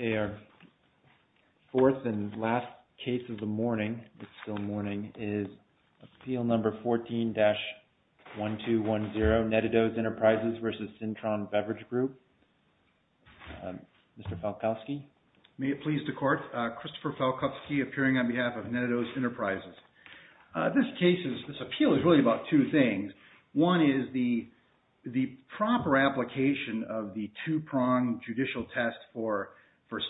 Okay, our fourth and last case of the morning, it's still morning, is appeal number 14-1210, Net-A-Dose Enterprises v. Cintron Beverage Group, Mr. Falkowski. May it please the court, Christopher Falkowski appearing on behalf of Net-A-Dose Enterprises. This case is, this appeal is really about two things. One is the proper application of the two-prong judicial test for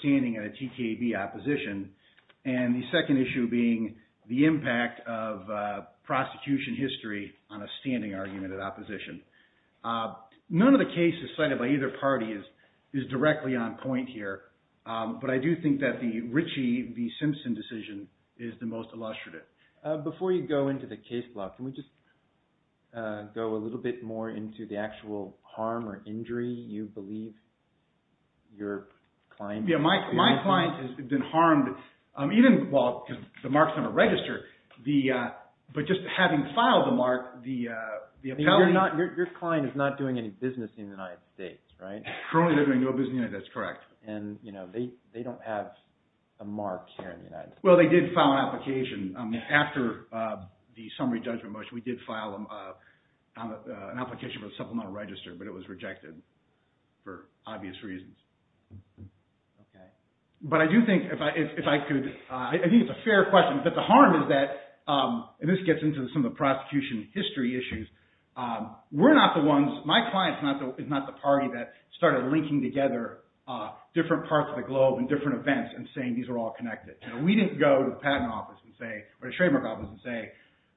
standing in a TKB opposition, and the second issue being the impact of prosecution history on a standing argument of opposition. None of the cases cited by either party is directly on point here, but I do think that the Ritchie v. Simpson decision is the most illustrative. Before you go into the case block, can we just go a little bit more into the actual harm or injury you believe your client... Yeah, my client has been harmed even, well, because the mark's on a register, but just having filed the mark, the appellee... Your client is not doing any business in the United States, right? Currently, they're doing no business in the United States, that's correct. They don't have a mark here in the United States. Well, they did file an application. After the summary judgment motion, we did file an application for a supplemental register, but it was rejected for obvious reasons. But I do think if I could... I think it's a fair question, but the harm is that, and this gets into some of the prosecution history issues, we're not the ones, my client is not the party that started linking together different parts of the globe and different events and saying, these are all connected. We didn't go to the patent office and say, or the trademark office and say,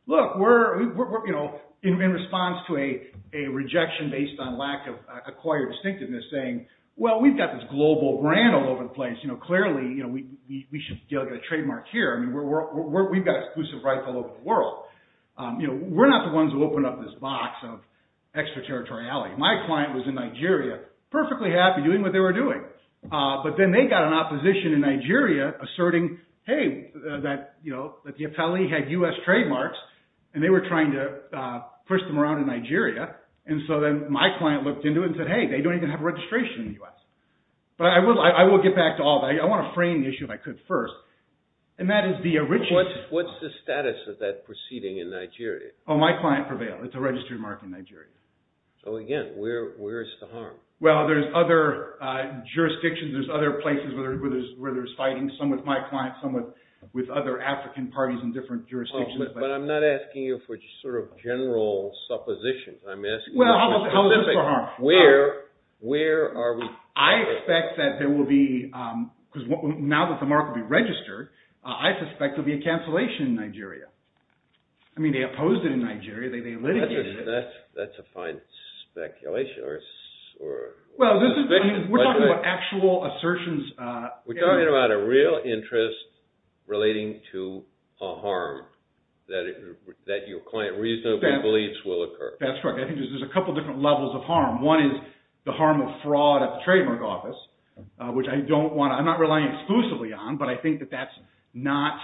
look, we're... We didn't go to the patent office and lack of acquired distinctiveness saying, well, we've got this global brand all over the place, clearly, we should be able to get a trademark here. I mean, we've got exclusive rights all over the world. We're not the ones who opened up this box of extraterritoriality. My client was in Nigeria, perfectly happy doing what they were doing. But then they got an opposition in Nigeria asserting, hey, that the appellee had US trademarks and they were trying to push them around in Nigeria. And so then my client looked into it and said, hey, they don't even have a registration in the US. But I will get back to all that. I want to frame the issue if I could first. And that is the original... What's the status of that proceeding in Nigeria? Oh, my client prevailed. It's a registered mark in Nigeria. So again, where is the harm? Well, there's other jurisdictions, there's other places where there's fighting, some with my client, some with other African parties in different jurisdictions. But I'm not asking you for sort of general suppositions. I'm asking you for general assumptions. Well, how is this for harm? Where are we... I expect that there will be... Because now that the mark will be registered, I suspect there'll be a cancellation in Nigeria. I mean, they opposed it in Nigeria. They litigated it. That's a fine speculation or... Well, this is... I mean, we're talking about actual assertions... We're talking about a real interest relating to a harm that your client reasonably believes will occur. That's right. That's right. Well, I think there's a couple of different levels of harm. One is the harm of fraud at the trademark office, which I don't want to... I'm not relying exclusively on, but I think that that's not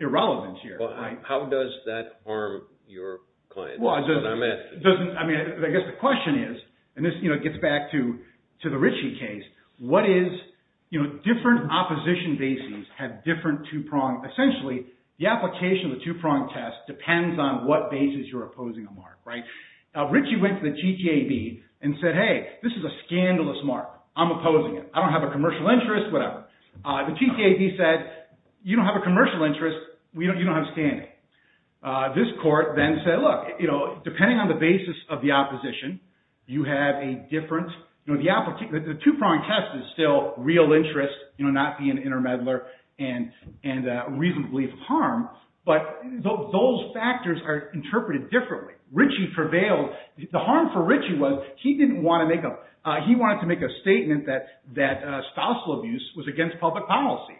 irrelevant here. Well, how does that harm your client? That's what I'm asking. Well, it doesn't... I mean, I guess the question is, and this gets back to the Ritchie case, what is... Different opposition bases have different two-pronged... Essentially, the application of the two-pronged test depends on what basis you're opposing a mark, right? Now, Ritchie went to the GTAB and said, hey, this is a scandalous mark. I'm opposing it. I don't have a commercial interest. Whatever. The GTAB said, you don't have a commercial interest, you don't have standing. This court then said, look, depending on the basis of the opposition, you have a different... The two-pronged test is still real interest, not being an intermeddler and reasonably harm, but those factors are interpreted differently. Ritchie prevailed. The harm for Ritchie was, he didn't want to make a... He wanted to make a statement that spousal abuse was against public policy.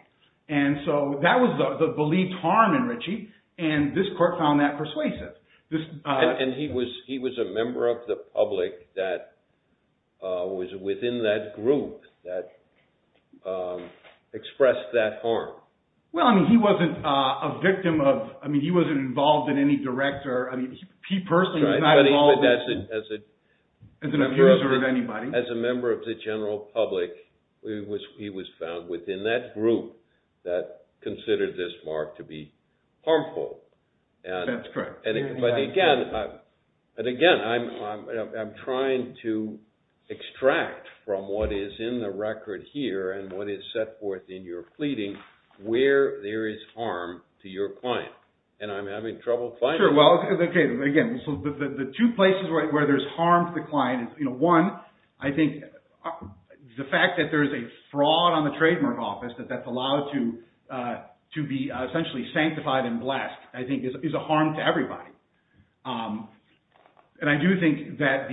And so that was the believed harm in Ritchie, and this court found that persuasive. And he was a member of the public that was within that group that expressed that harm. Well, I mean, he wasn't a victim of... I mean, he wasn't involved in any direct or... He personally was not involved in... As a member of the general public, he was found within that group that considered this mark to be harmful. That's correct. But again, I'm trying to extract from what is in the record here and what is set forth in your pleading, where there is harm to your client, and I'm having trouble finding it. Yeah, sure. Well, okay. Again, the two places where there's harm to the client, one, I think the fact that there is a fraud on the trademark office, that that's allowed to be essentially sanctified and blessed, I think is a harm to everybody. And I do think that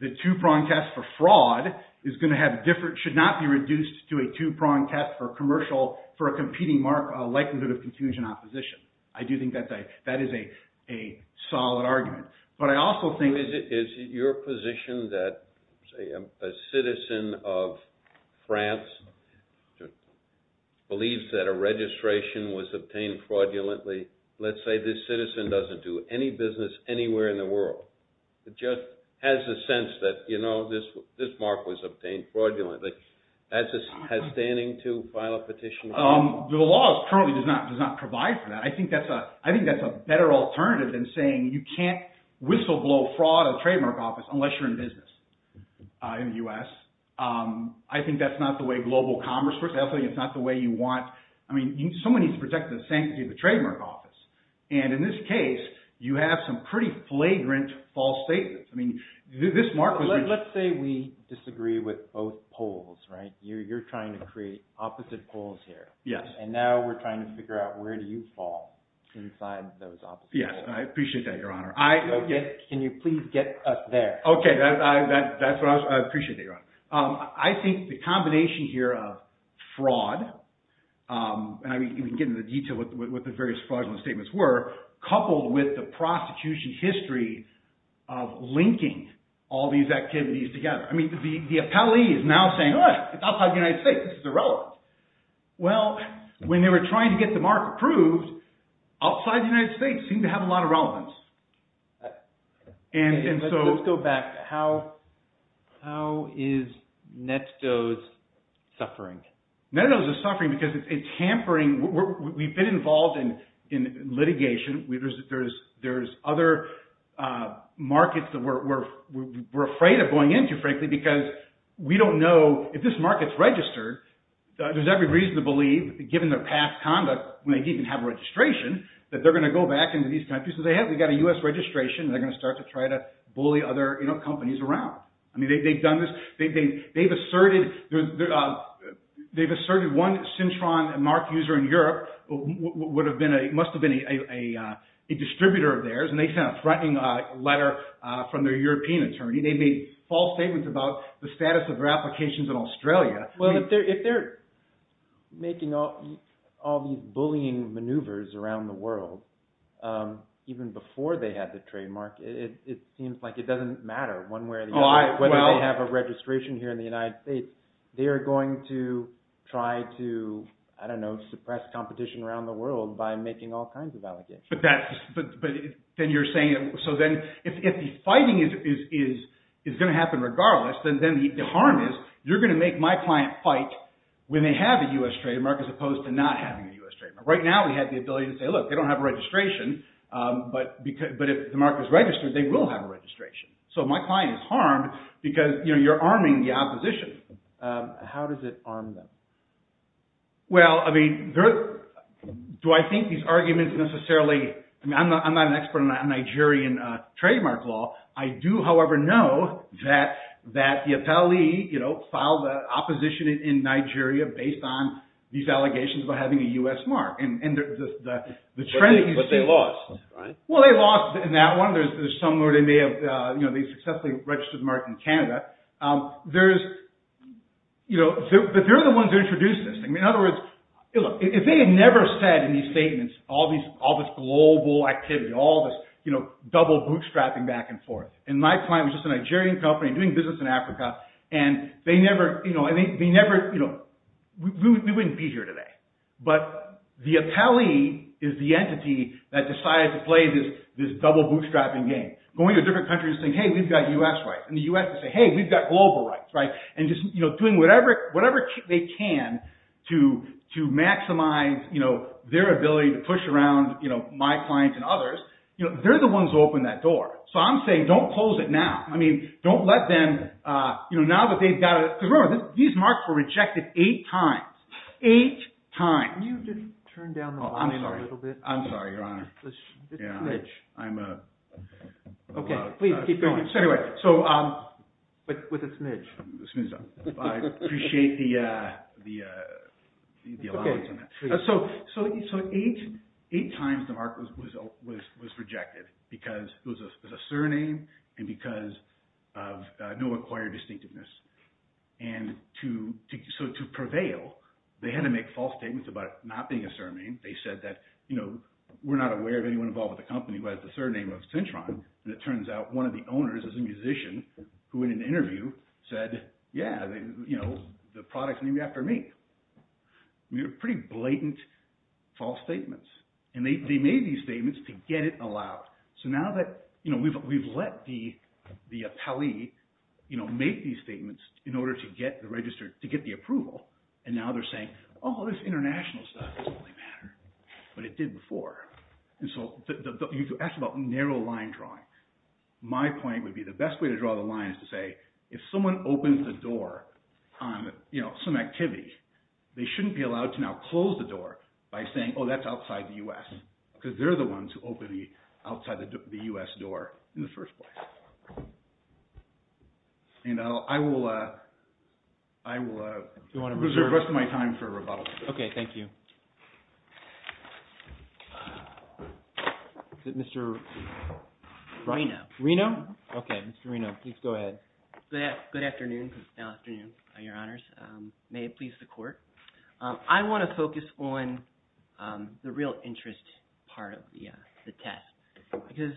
the two-prong test for fraud is going to have different... Should not be reduced to a two-prong test for commercial... For a competing likelihood of confusion and opposition. I do think that is a solid argument. But I also think... Is it your position that, say, a citizen of France believes that a registration was obtained fraudulently, let's say this citizen doesn't do any business anywhere in the world, just has a sense that, you know, this mark was obtained fraudulently, has standing to file a petition? The law currently does not provide for that. I think that's a better alternative than saying you can't whistleblow fraud on the trademark office unless you're in business in the U.S. I think that's not the way global commerce works. I also think it's not the way you want... I mean, someone needs to protect the sanctity of the trademark office. And in this case, you have some pretty flagrant false statements. I mean, this mark was... Let's say we disagree with both polls, right? You're trying to create opposite polls here. Yes. And now we're trying to figure out where do you fall inside those opposite polls. Yes. I appreciate that, Your Honor. I... Can you please get us there? Okay. That's what I was... I appreciate that, Your Honor. I think the combination here of fraud, and I mean, you can get into detail what the various fraudulent statements were, coupled with the prosecution history of linking all these activities together. I mean, the appellee is now saying, all right, it's outside the United States, this is irrelevant. Well, when they were trying to get the mark approved, outside the United States seemed to have a lot of relevance. And so... Let's go back. How is Netto's suffering? Netto's suffering because it's hampering... We've been involved in litigation. There's other markets that we're afraid of going into, frankly, because we don't know if this market's registered. There's every reason to believe, given their past conduct, when they didn't have a registration, that they're going to go back into these countries. So they have... We've got a U.S. registration, and they're going to start to try to bully other companies around. I mean, they've done this... They've asserted... They've asserted one Cintron mark user in Europe would have been a... Must have been a distributor of theirs, and they sent a threatening letter from their European attorney. They made false statements about the status of their applications in Australia. Well, if they're making all these bullying maneuvers around the world, even before they had the trademark, it seems like it doesn't matter one way or the other whether they have a registration here in the United States. They're going to try to, I don't know, suppress competition around the world by making all kinds of allegations. But that's... But then you're saying... So then if the fighting is going to happen regardless, then the harm is, you're going to make my client fight when they have a U.S. trademark as opposed to not having a U.S. trademark. Right now, we have the ability to say, look, they don't have a registration, but if the mark is registered, they will have a registration. So my client is harmed because you're arming the opposition. How does it arm them? Well, I mean, do I think these arguments necessarily... I mean, I'm not an expert on Nigerian trademark law. I do, however, know that the appellee filed an opposition in Nigeria based on these allegations about having a U.S. mark. And the trend... But they lost, right? Well, they lost in that one. There's somewhere they may have... They successfully registered the mark in Canada. There's... But they're the ones who introduced this. I mean, in other words, look, if they had never said in these statements all this global activity, all this double bootstrapping back and forth, and my client was just a Nigerian company doing business in Africa, and they never... We wouldn't be here today. But the appellee is the entity that decided to play this double bootstrapping game. Going to different countries and saying, hey, we've got U.S. rights, and the U.S. will say, hey, we've got global rights, right? And just doing whatever they can to maximize their ability to push around my client's and others, they're the ones who opened that door. So I'm saying don't close it now. I mean, don't let them... Now that they've got... Because remember, these marks were rejected eight times. Eight times. Can you just turn down the volume a little bit? Oh, I'm sorry. I'm sorry, Your Honor. It's smidge. I'm a... Okay. Please, keep going. Anyway, so... But with a smidge. I appreciate the allowance on that. Okay, please. So eight times the mark was opened. because it was a surname and because of no acquired distinctiveness. And so to prevail, they had to make false statements about it not being a surname. They said that, you know, we're not aware of anyone involved with the company who has the surname of Cintron, and it turns out one of the owners is a musician who in an interview said, yeah, the product's named after me. I mean, pretty blatant false statements. And they made these statements to get it allowed. So now that, you know, we've let the appellee, you know, make these statements in order to get the registered... To get the approval. And now they're saying, oh, this international stuff doesn't really matter, but it did before. And so you asked about narrow line drawing. My point would be the best way to draw the line is to say, if someone opens the door on, you know, some activity, they shouldn't be allowed to now close the door by saying, oh, that's outside the U.S., because they're the ones who opened the outside the U.S. door in the first place. And I will reserve the rest of my time for rebuttals. Okay. Thank you. Is it Mr. Reno? Reno. Okay. Mr. Reno, please go ahead. Good afternoon, your honors. May it please the court. I want to focus on the real interest part of the test. Because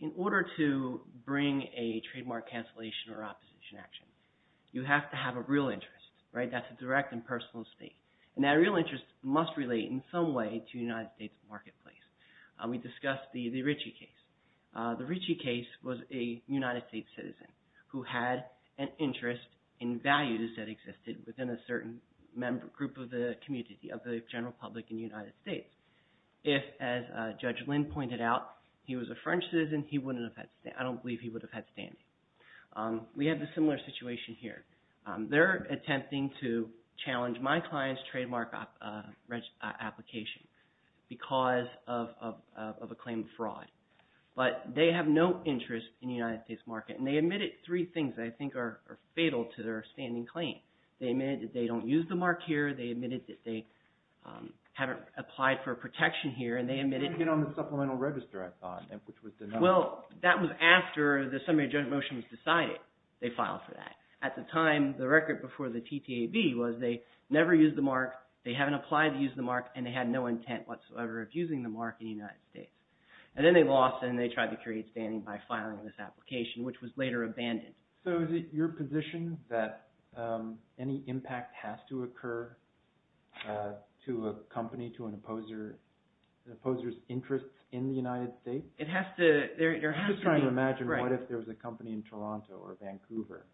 in order to bring a trademark cancellation or opposition action, you have to have a real interest, right? That's a direct and personal stake. And that real interest must relate in some way to the United States marketplace. We discussed the Ricci case. The Ricci case was a United States citizen who had an interest in values that existed within a certain group of the community of the general public in the United States. If, as Judge Lynn pointed out, he was a French citizen, I don't believe he would have had standing. We have a similar situation here. They're attempting to challenge my client's trademark application because of a claim of fraud. But they have no interest in the United States market. And they admitted three things that I think are fatal to their standing claim. They admitted that they don't use the mark here. They admitted that they haven't applied for protection here. And they admitted... They didn't get on the supplemental register, I thought, which was the number... Well, that was after the summary judgment motion was decided. They filed for that. At the time, the record before the TTAB was they never used the mark, they haven't applied to use the mark, and they had no intent whatsoever of using the mark in the United States. And then they lost and they tried to create standing by filing this application, which was later abandoned. So is it your position that any impact has to occur to a company, to an opposer's interests in the United States? It has to... I'm just trying to imagine what if there was a company in Toronto or Vancouver,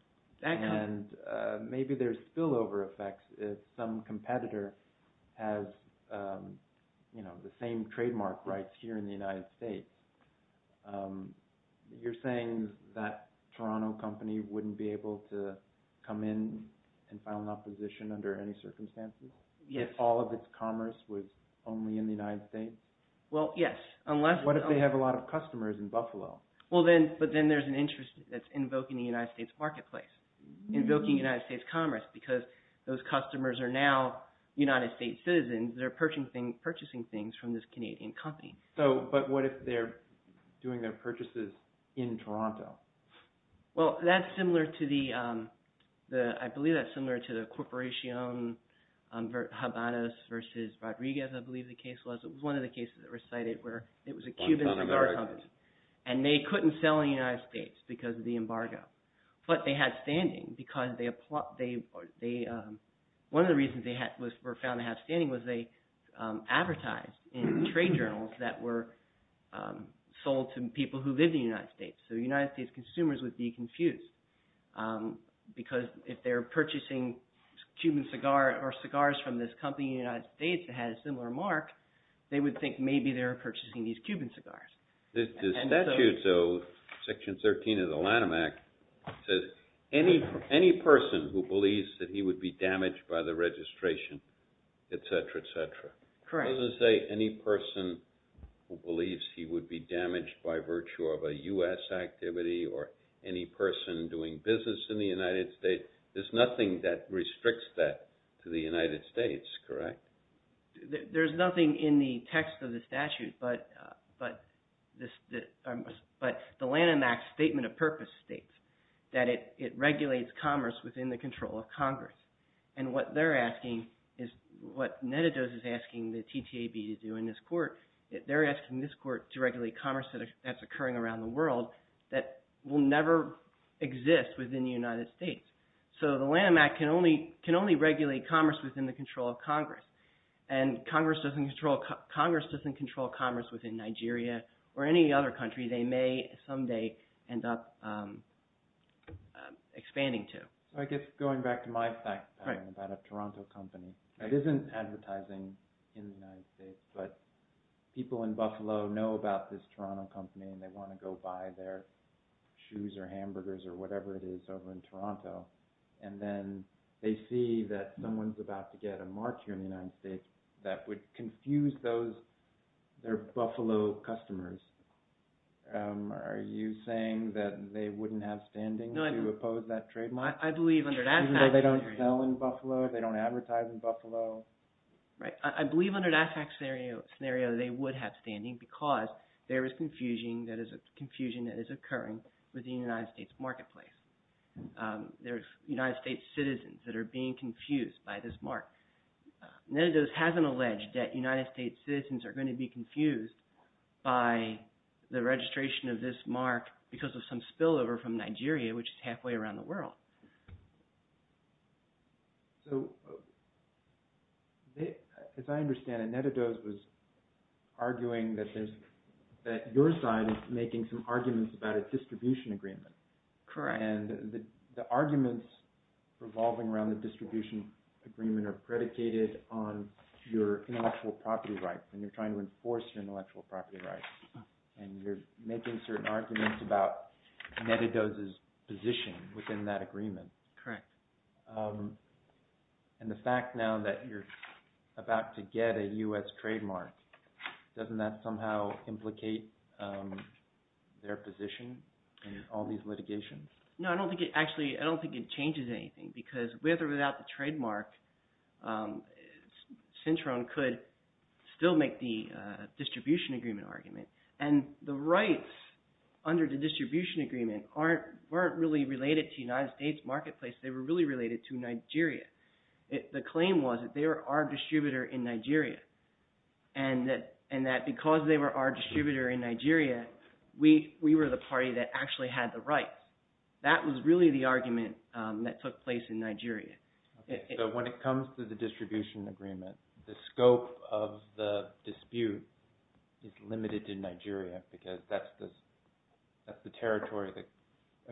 and maybe there's spillover effects if some competitor has the same trademark rights here in the United States. You're saying that Toronto company wouldn't be able to come in and file an opposition under any circumstances? Yes. If all of its commerce was only in the United States? Well, yes, unless... What if they have a lot of customers in Buffalo? Well, then... But then there's an interest that's invoking the United States marketplace, invoking United States commerce, because those customers are now United States citizens. They're purchasing things from this Canadian company. But what if they're doing their purchases in Toronto? Well, that's similar to the... I believe that's similar to the Corporacion Habanos versus Rodriguez, I believe the case was. It was one of the cases that were cited where it was a Cuban cigar company, and they couldn't sell in the United States because of the embargo. But they had standing because they... One of the reasons they were found to have standing was they advertised in trade journals that were sold to people who lived in the United States. So United States consumers would be confused, because if they're purchasing Cuban cigar or cigars from this company in the United States that had a similar mark, they would think maybe they were purchasing these Cuban cigars. The statute, though, Section 13 of the Lanham Act, says any person who believes that he would be damaged by the registration, et cetera, et cetera. Correct. It doesn't say any person who believes he would be damaged by virtue of a U.S. activity or any person doing business in the United States. There's nothing that restricts that to the United States, correct? There's nothing in the text of the statute, but the Lanham Act Statement of Purpose states that it regulates commerce within the control of Congress. And what they're asking is what Netidos is asking the TTAB to do in this court, they're asking this court to regulate commerce that's occurring around the world that will never exist within the United States. So the Lanham Act can only regulate commerce within the control of Congress. And Congress doesn't control commerce within Nigeria or any other country they may someday end up expanding to. I guess going back to my fact about a Toronto company, it isn't advertising in the United States, but people in Buffalo know about this Toronto company and they want to go buy their shoes or hamburgers or whatever it is over in Toronto. And then they see that someone's about to get a mark here in the United States that would confuse their Buffalo customers. Are you saying that they wouldn't have standing to oppose that trademark? Even though they don't sell in Buffalo, they don't advertise in Buffalo? Right. I believe under that fact scenario they would have standing because there is confusion that is occurring within the United States marketplace. There's United States citizens that are being confused by this mark. Netidos hasn't alleged that United States citizens are going to be confused by the registration of this mark because of some spillover from Nigeria, which is halfway around the world. So, as I understand it, Netidos was arguing that your side is making some arguments about a distribution agreement. Correct. And the arguments revolving around the distribution agreement are predicated on your intellectual property rights and you're trying to enforce your intellectual property rights. And you're making certain arguments about Netidos' position within that agreement. Correct. And the fact now that you're about to get a US trademark, doesn't that somehow implicate their position in all these litigations? No, I don't think it – actually, I don't think it changes anything because with or make the distribution agreement argument. And the rights under the distribution agreement weren't really related to United States marketplace. They were really related to Nigeria. The claim was that they were our distributor in Nigeria. And that because they were our distributor in Nigeria, we were the party that actually had the rights. That was really the argument that took place in Nigeria. Okay, so when it comes to the distribution agreement, the scope of the dispute is limited to Nigeria because that's the territory the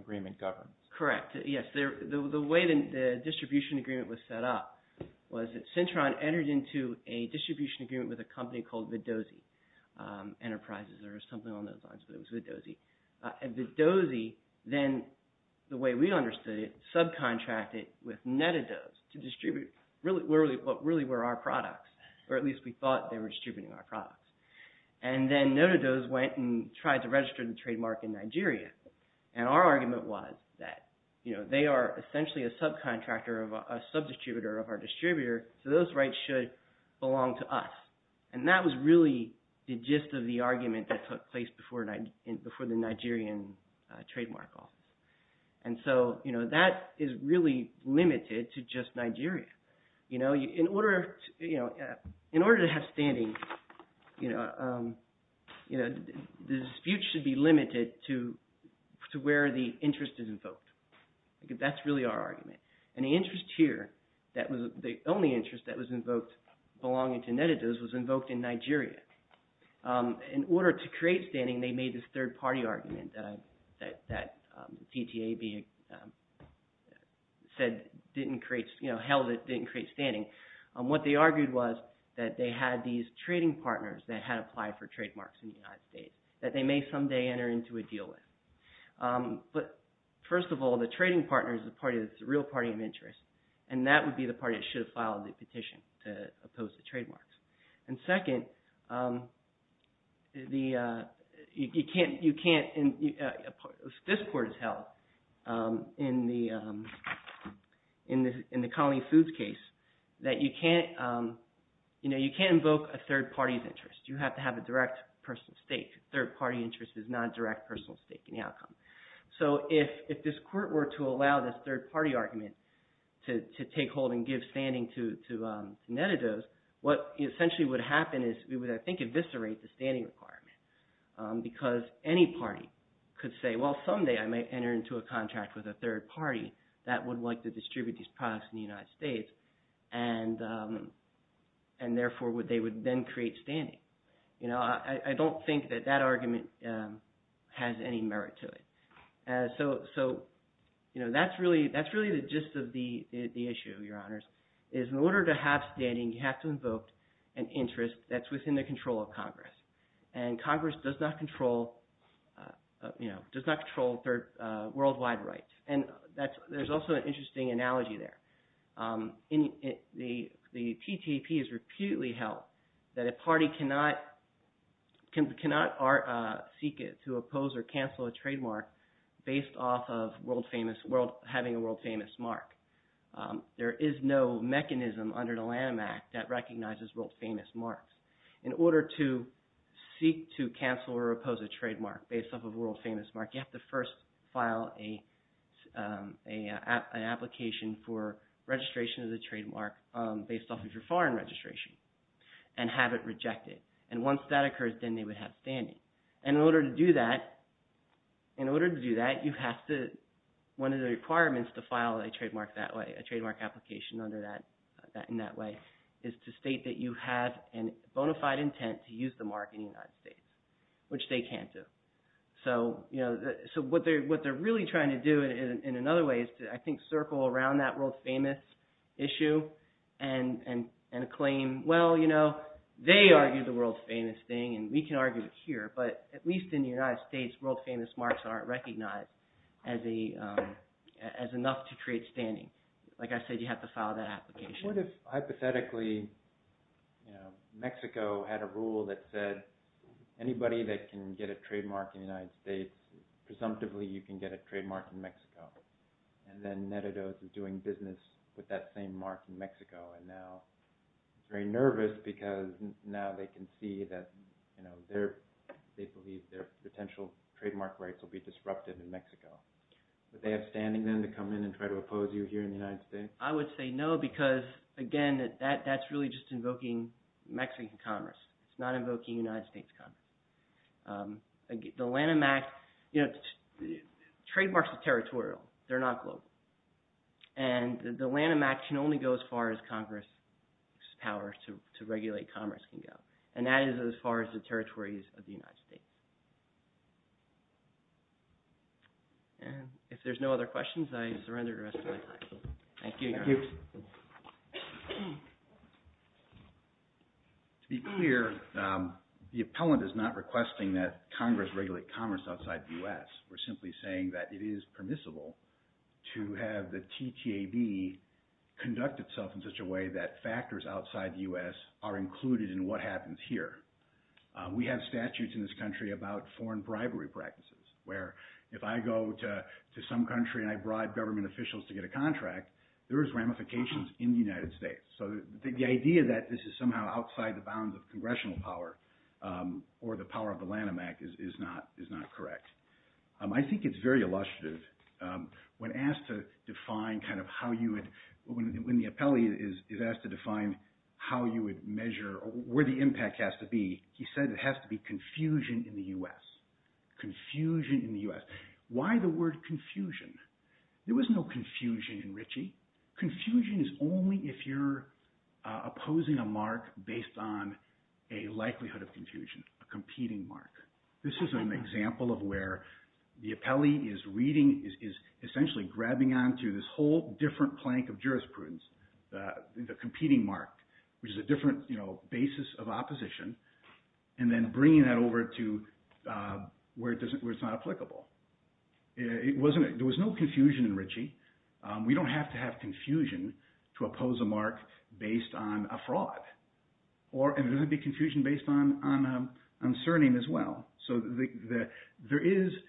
agreement governs. Correct. Yes, the way the distribution agreement was set up was that Cintron entered into a distribution agreement with a company called Vidosi Enterprises or something along those lines, but it was Vidosi. Vidosi then, the way we understood it, subcontracted with Netados to distribute what really were our products, or at least we thought they were distributing our products. And then Netados went and tried to register the trademark in Nigeria. And our argument was that they are essentially a subcontractor, a subdistributor of our distributor, so those rights should belong to us. And that was really the gist of the argument that took place before the Nigerian trademark law. And so that is really limited to just Nigeria. In order to have standing, the dispute should be limited to where the interest is invoked. That's really our argument. And the interest here, the only interest that was invoked belonging to Netados was invoked in Nigeria. In order to create standing, they made this third-party argument that TTAB held it didn't create standing. What they argued was that they had these trading partners that had applied for trademarks in the United States that they may someday enter into a deal with. But first of all, the trading partner is the party that's the real party of interest, and that would be the party that should have filed the petition to oppose the trademarks. And second, you can't – this court has held in the Colony Foods case that you can't invoke a third party's interest. You have to have a direct personal stake. Third-party interest is not a direct personal stake in the outcome. So if this court were to allow this third-party argument to take hold and give standing to Netados, what essentially would happen is we would, I think, eviscerate the standing requirement because any party could say, well, someday I might enter into a contract with a third party that would like to distribute these products in the United States, and therefore they would then create standing. I don't think that that argument has any merit to it. So that's really the gist of the issue, Your Honors, is in order to have standing, you have to invoke an interest that's within the control of Congress, and Congress does not control worldwide rights. And there's also an interesting analogy there. The TTP has repeatedly held that a party cannot seek to oppose or cancel a trademark based off of having a world-famous mark. There is no mechanism under the Lanham Act that recognizes world-famous marks. In order to seek to cancel or oppose a trademark based off of a world-famous mark, you have to first file an application for registration of the trademark based off of your foreign registration and have it rejected. And once that occurs, then they would have standing. And in order to do that, you have to, one of the requirements to file a trademark that way, a trademark application in that way, is to state that you have a bona fide intent to use the mark in the United States, which they can't do. So what they're really trying to do in another way is to, I think, circle around that world-famous issue and claim, well, you know, they argued the world-famous thing, and we can argue it here, but at least in the United States, world-famous marks aren't recognized as enough to create standing. Like I said, you have to file that application. What if, hypothetically, Mexico had a rule that said anybody that can get a trademark in the United States, presumptively, you can get a trademark in Mexico? And then Net-A-Dose is doing business with that same mark in Mexico and now is very nervous because now they can see that they believe their potential trademark rights will be disrupted in Mexico. Would they have standing then to come in and try to oppose you here in the United States? I would say no because, again, that's really just invoking Mexican commerce. It's not invoking United States commerce. The Lanham Act, you know, trademarks are territorial. They're not global. And the Lanham Act can only go as far as Congress's power to regulate commerce can go, and that is as far as the territories of the United States. And if there's no other questions, I surrender the rest of my time. Thank you. To be clear, the appellant is not requesting that Congress regulate commerce outside the U.S. We're simply saying that it is permissible to have the TTAB conduct itself in such a way that factors outside the U.S. are included in what happens here. We have statutes in this country about foreign bribery practices where if I go to some country and I bribe government officials to get a contract, there is ramifications in the United States. So the idea that this is somehow outside the bounds of congressional power or the power of the Lanham Act is not correct. I think it's very illustrative. When asked to define kind of how you would – when the appellee is asked to define how you would measure or where the impact has to be, he said it has to be confusion in the U.S., confusion in the U.S. Why the word confusion? There was no confusion in Ritchie. Confusion is only if you're opposing a mark based on a likelihood of confusion, a competing mark. This is an example of where the appellee is reading – is essentially grabbing onto this whole different plank of jurisprudence, the competing mark, which is a different basis of opposition, and then bringing that over to where it's not applicable. It wasn't – there was no confusion in Ritchie. We don't have to have confusion to oppose a mark based on a fraud. And it doesn't have to be confusion based on a surname as well. So there is –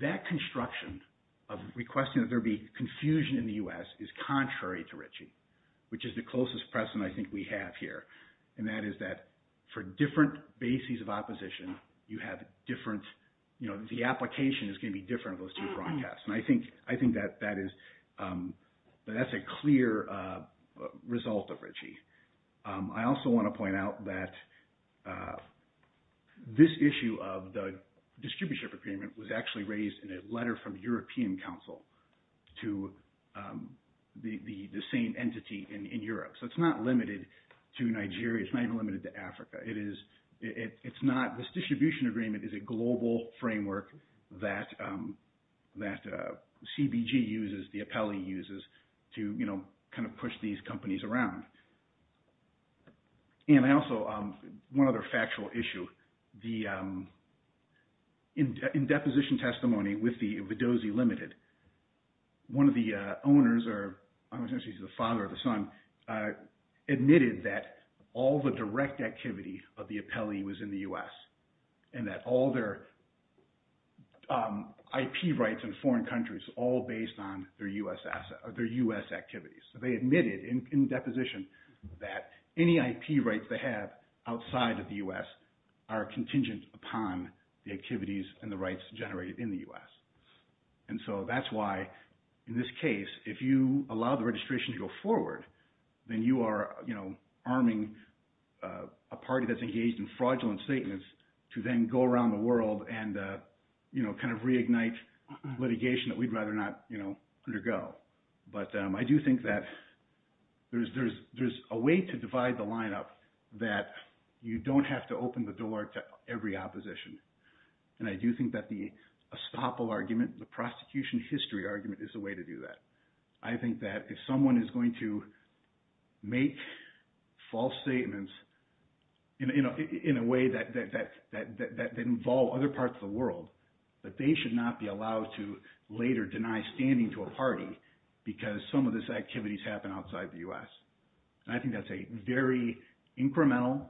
that construction of requesting that there be confusion in the U.S. is contrary to Ritchie, which is the closest precedent I think we have here, and that is that for different bases of opposition, you have different – the application is going to be different on those two broadcasts. And I think that that is – that that's a clear result of Ritchie. I also want to point out that this issue of the distributorship agreement was actually raised in a letter from European Council to the same entity in Europe. So it's not limited to Nigeria. It's not even limited to Africa. It is – it's not – this distribution agreement is a global framework that CBG uses, the appellee uses, to kind of push these companies around. And I also – one other factual issue. The – in deposition testimony with the Vidozzi Limited, one of the owners, or I was going to say the father or the son, admitted that all the direct activity of the appellee was in the U.S. and that all their IP rights in foreign countries all based on their U.S. assets or their U.S. activities. So they admitted in deposition that any IP rights they have outside of the U.S. are contingent upon the activities and the rights generated in the U.S. And so that's why in this case, if you allow the registration to go forward, then you are arming a party that's engaged in fraudulent statements to then go around the world and kind of reignite litigation that we'd rather not undergo. But I do think that there's a way to divide the lineup that you don't have to open the door to every opposition. And I do think that the estoppel argument, the prosecution history argument, is a way to do that. I think that if someone is going to make false statements in a way that involve other parts of the world, that they should not be allowed to later deny standing to a party because some of these activities happen outside the U.S. And I think that's a very incremental,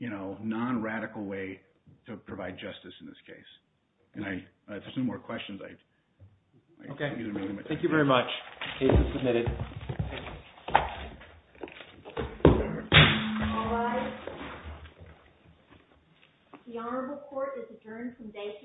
non-radical way to provide justice in this case. And if there's no more questions, I think we can move on. Okay. Thank you very much. The case is submitted. All rise. The Honorable Court is adjourned from day to day.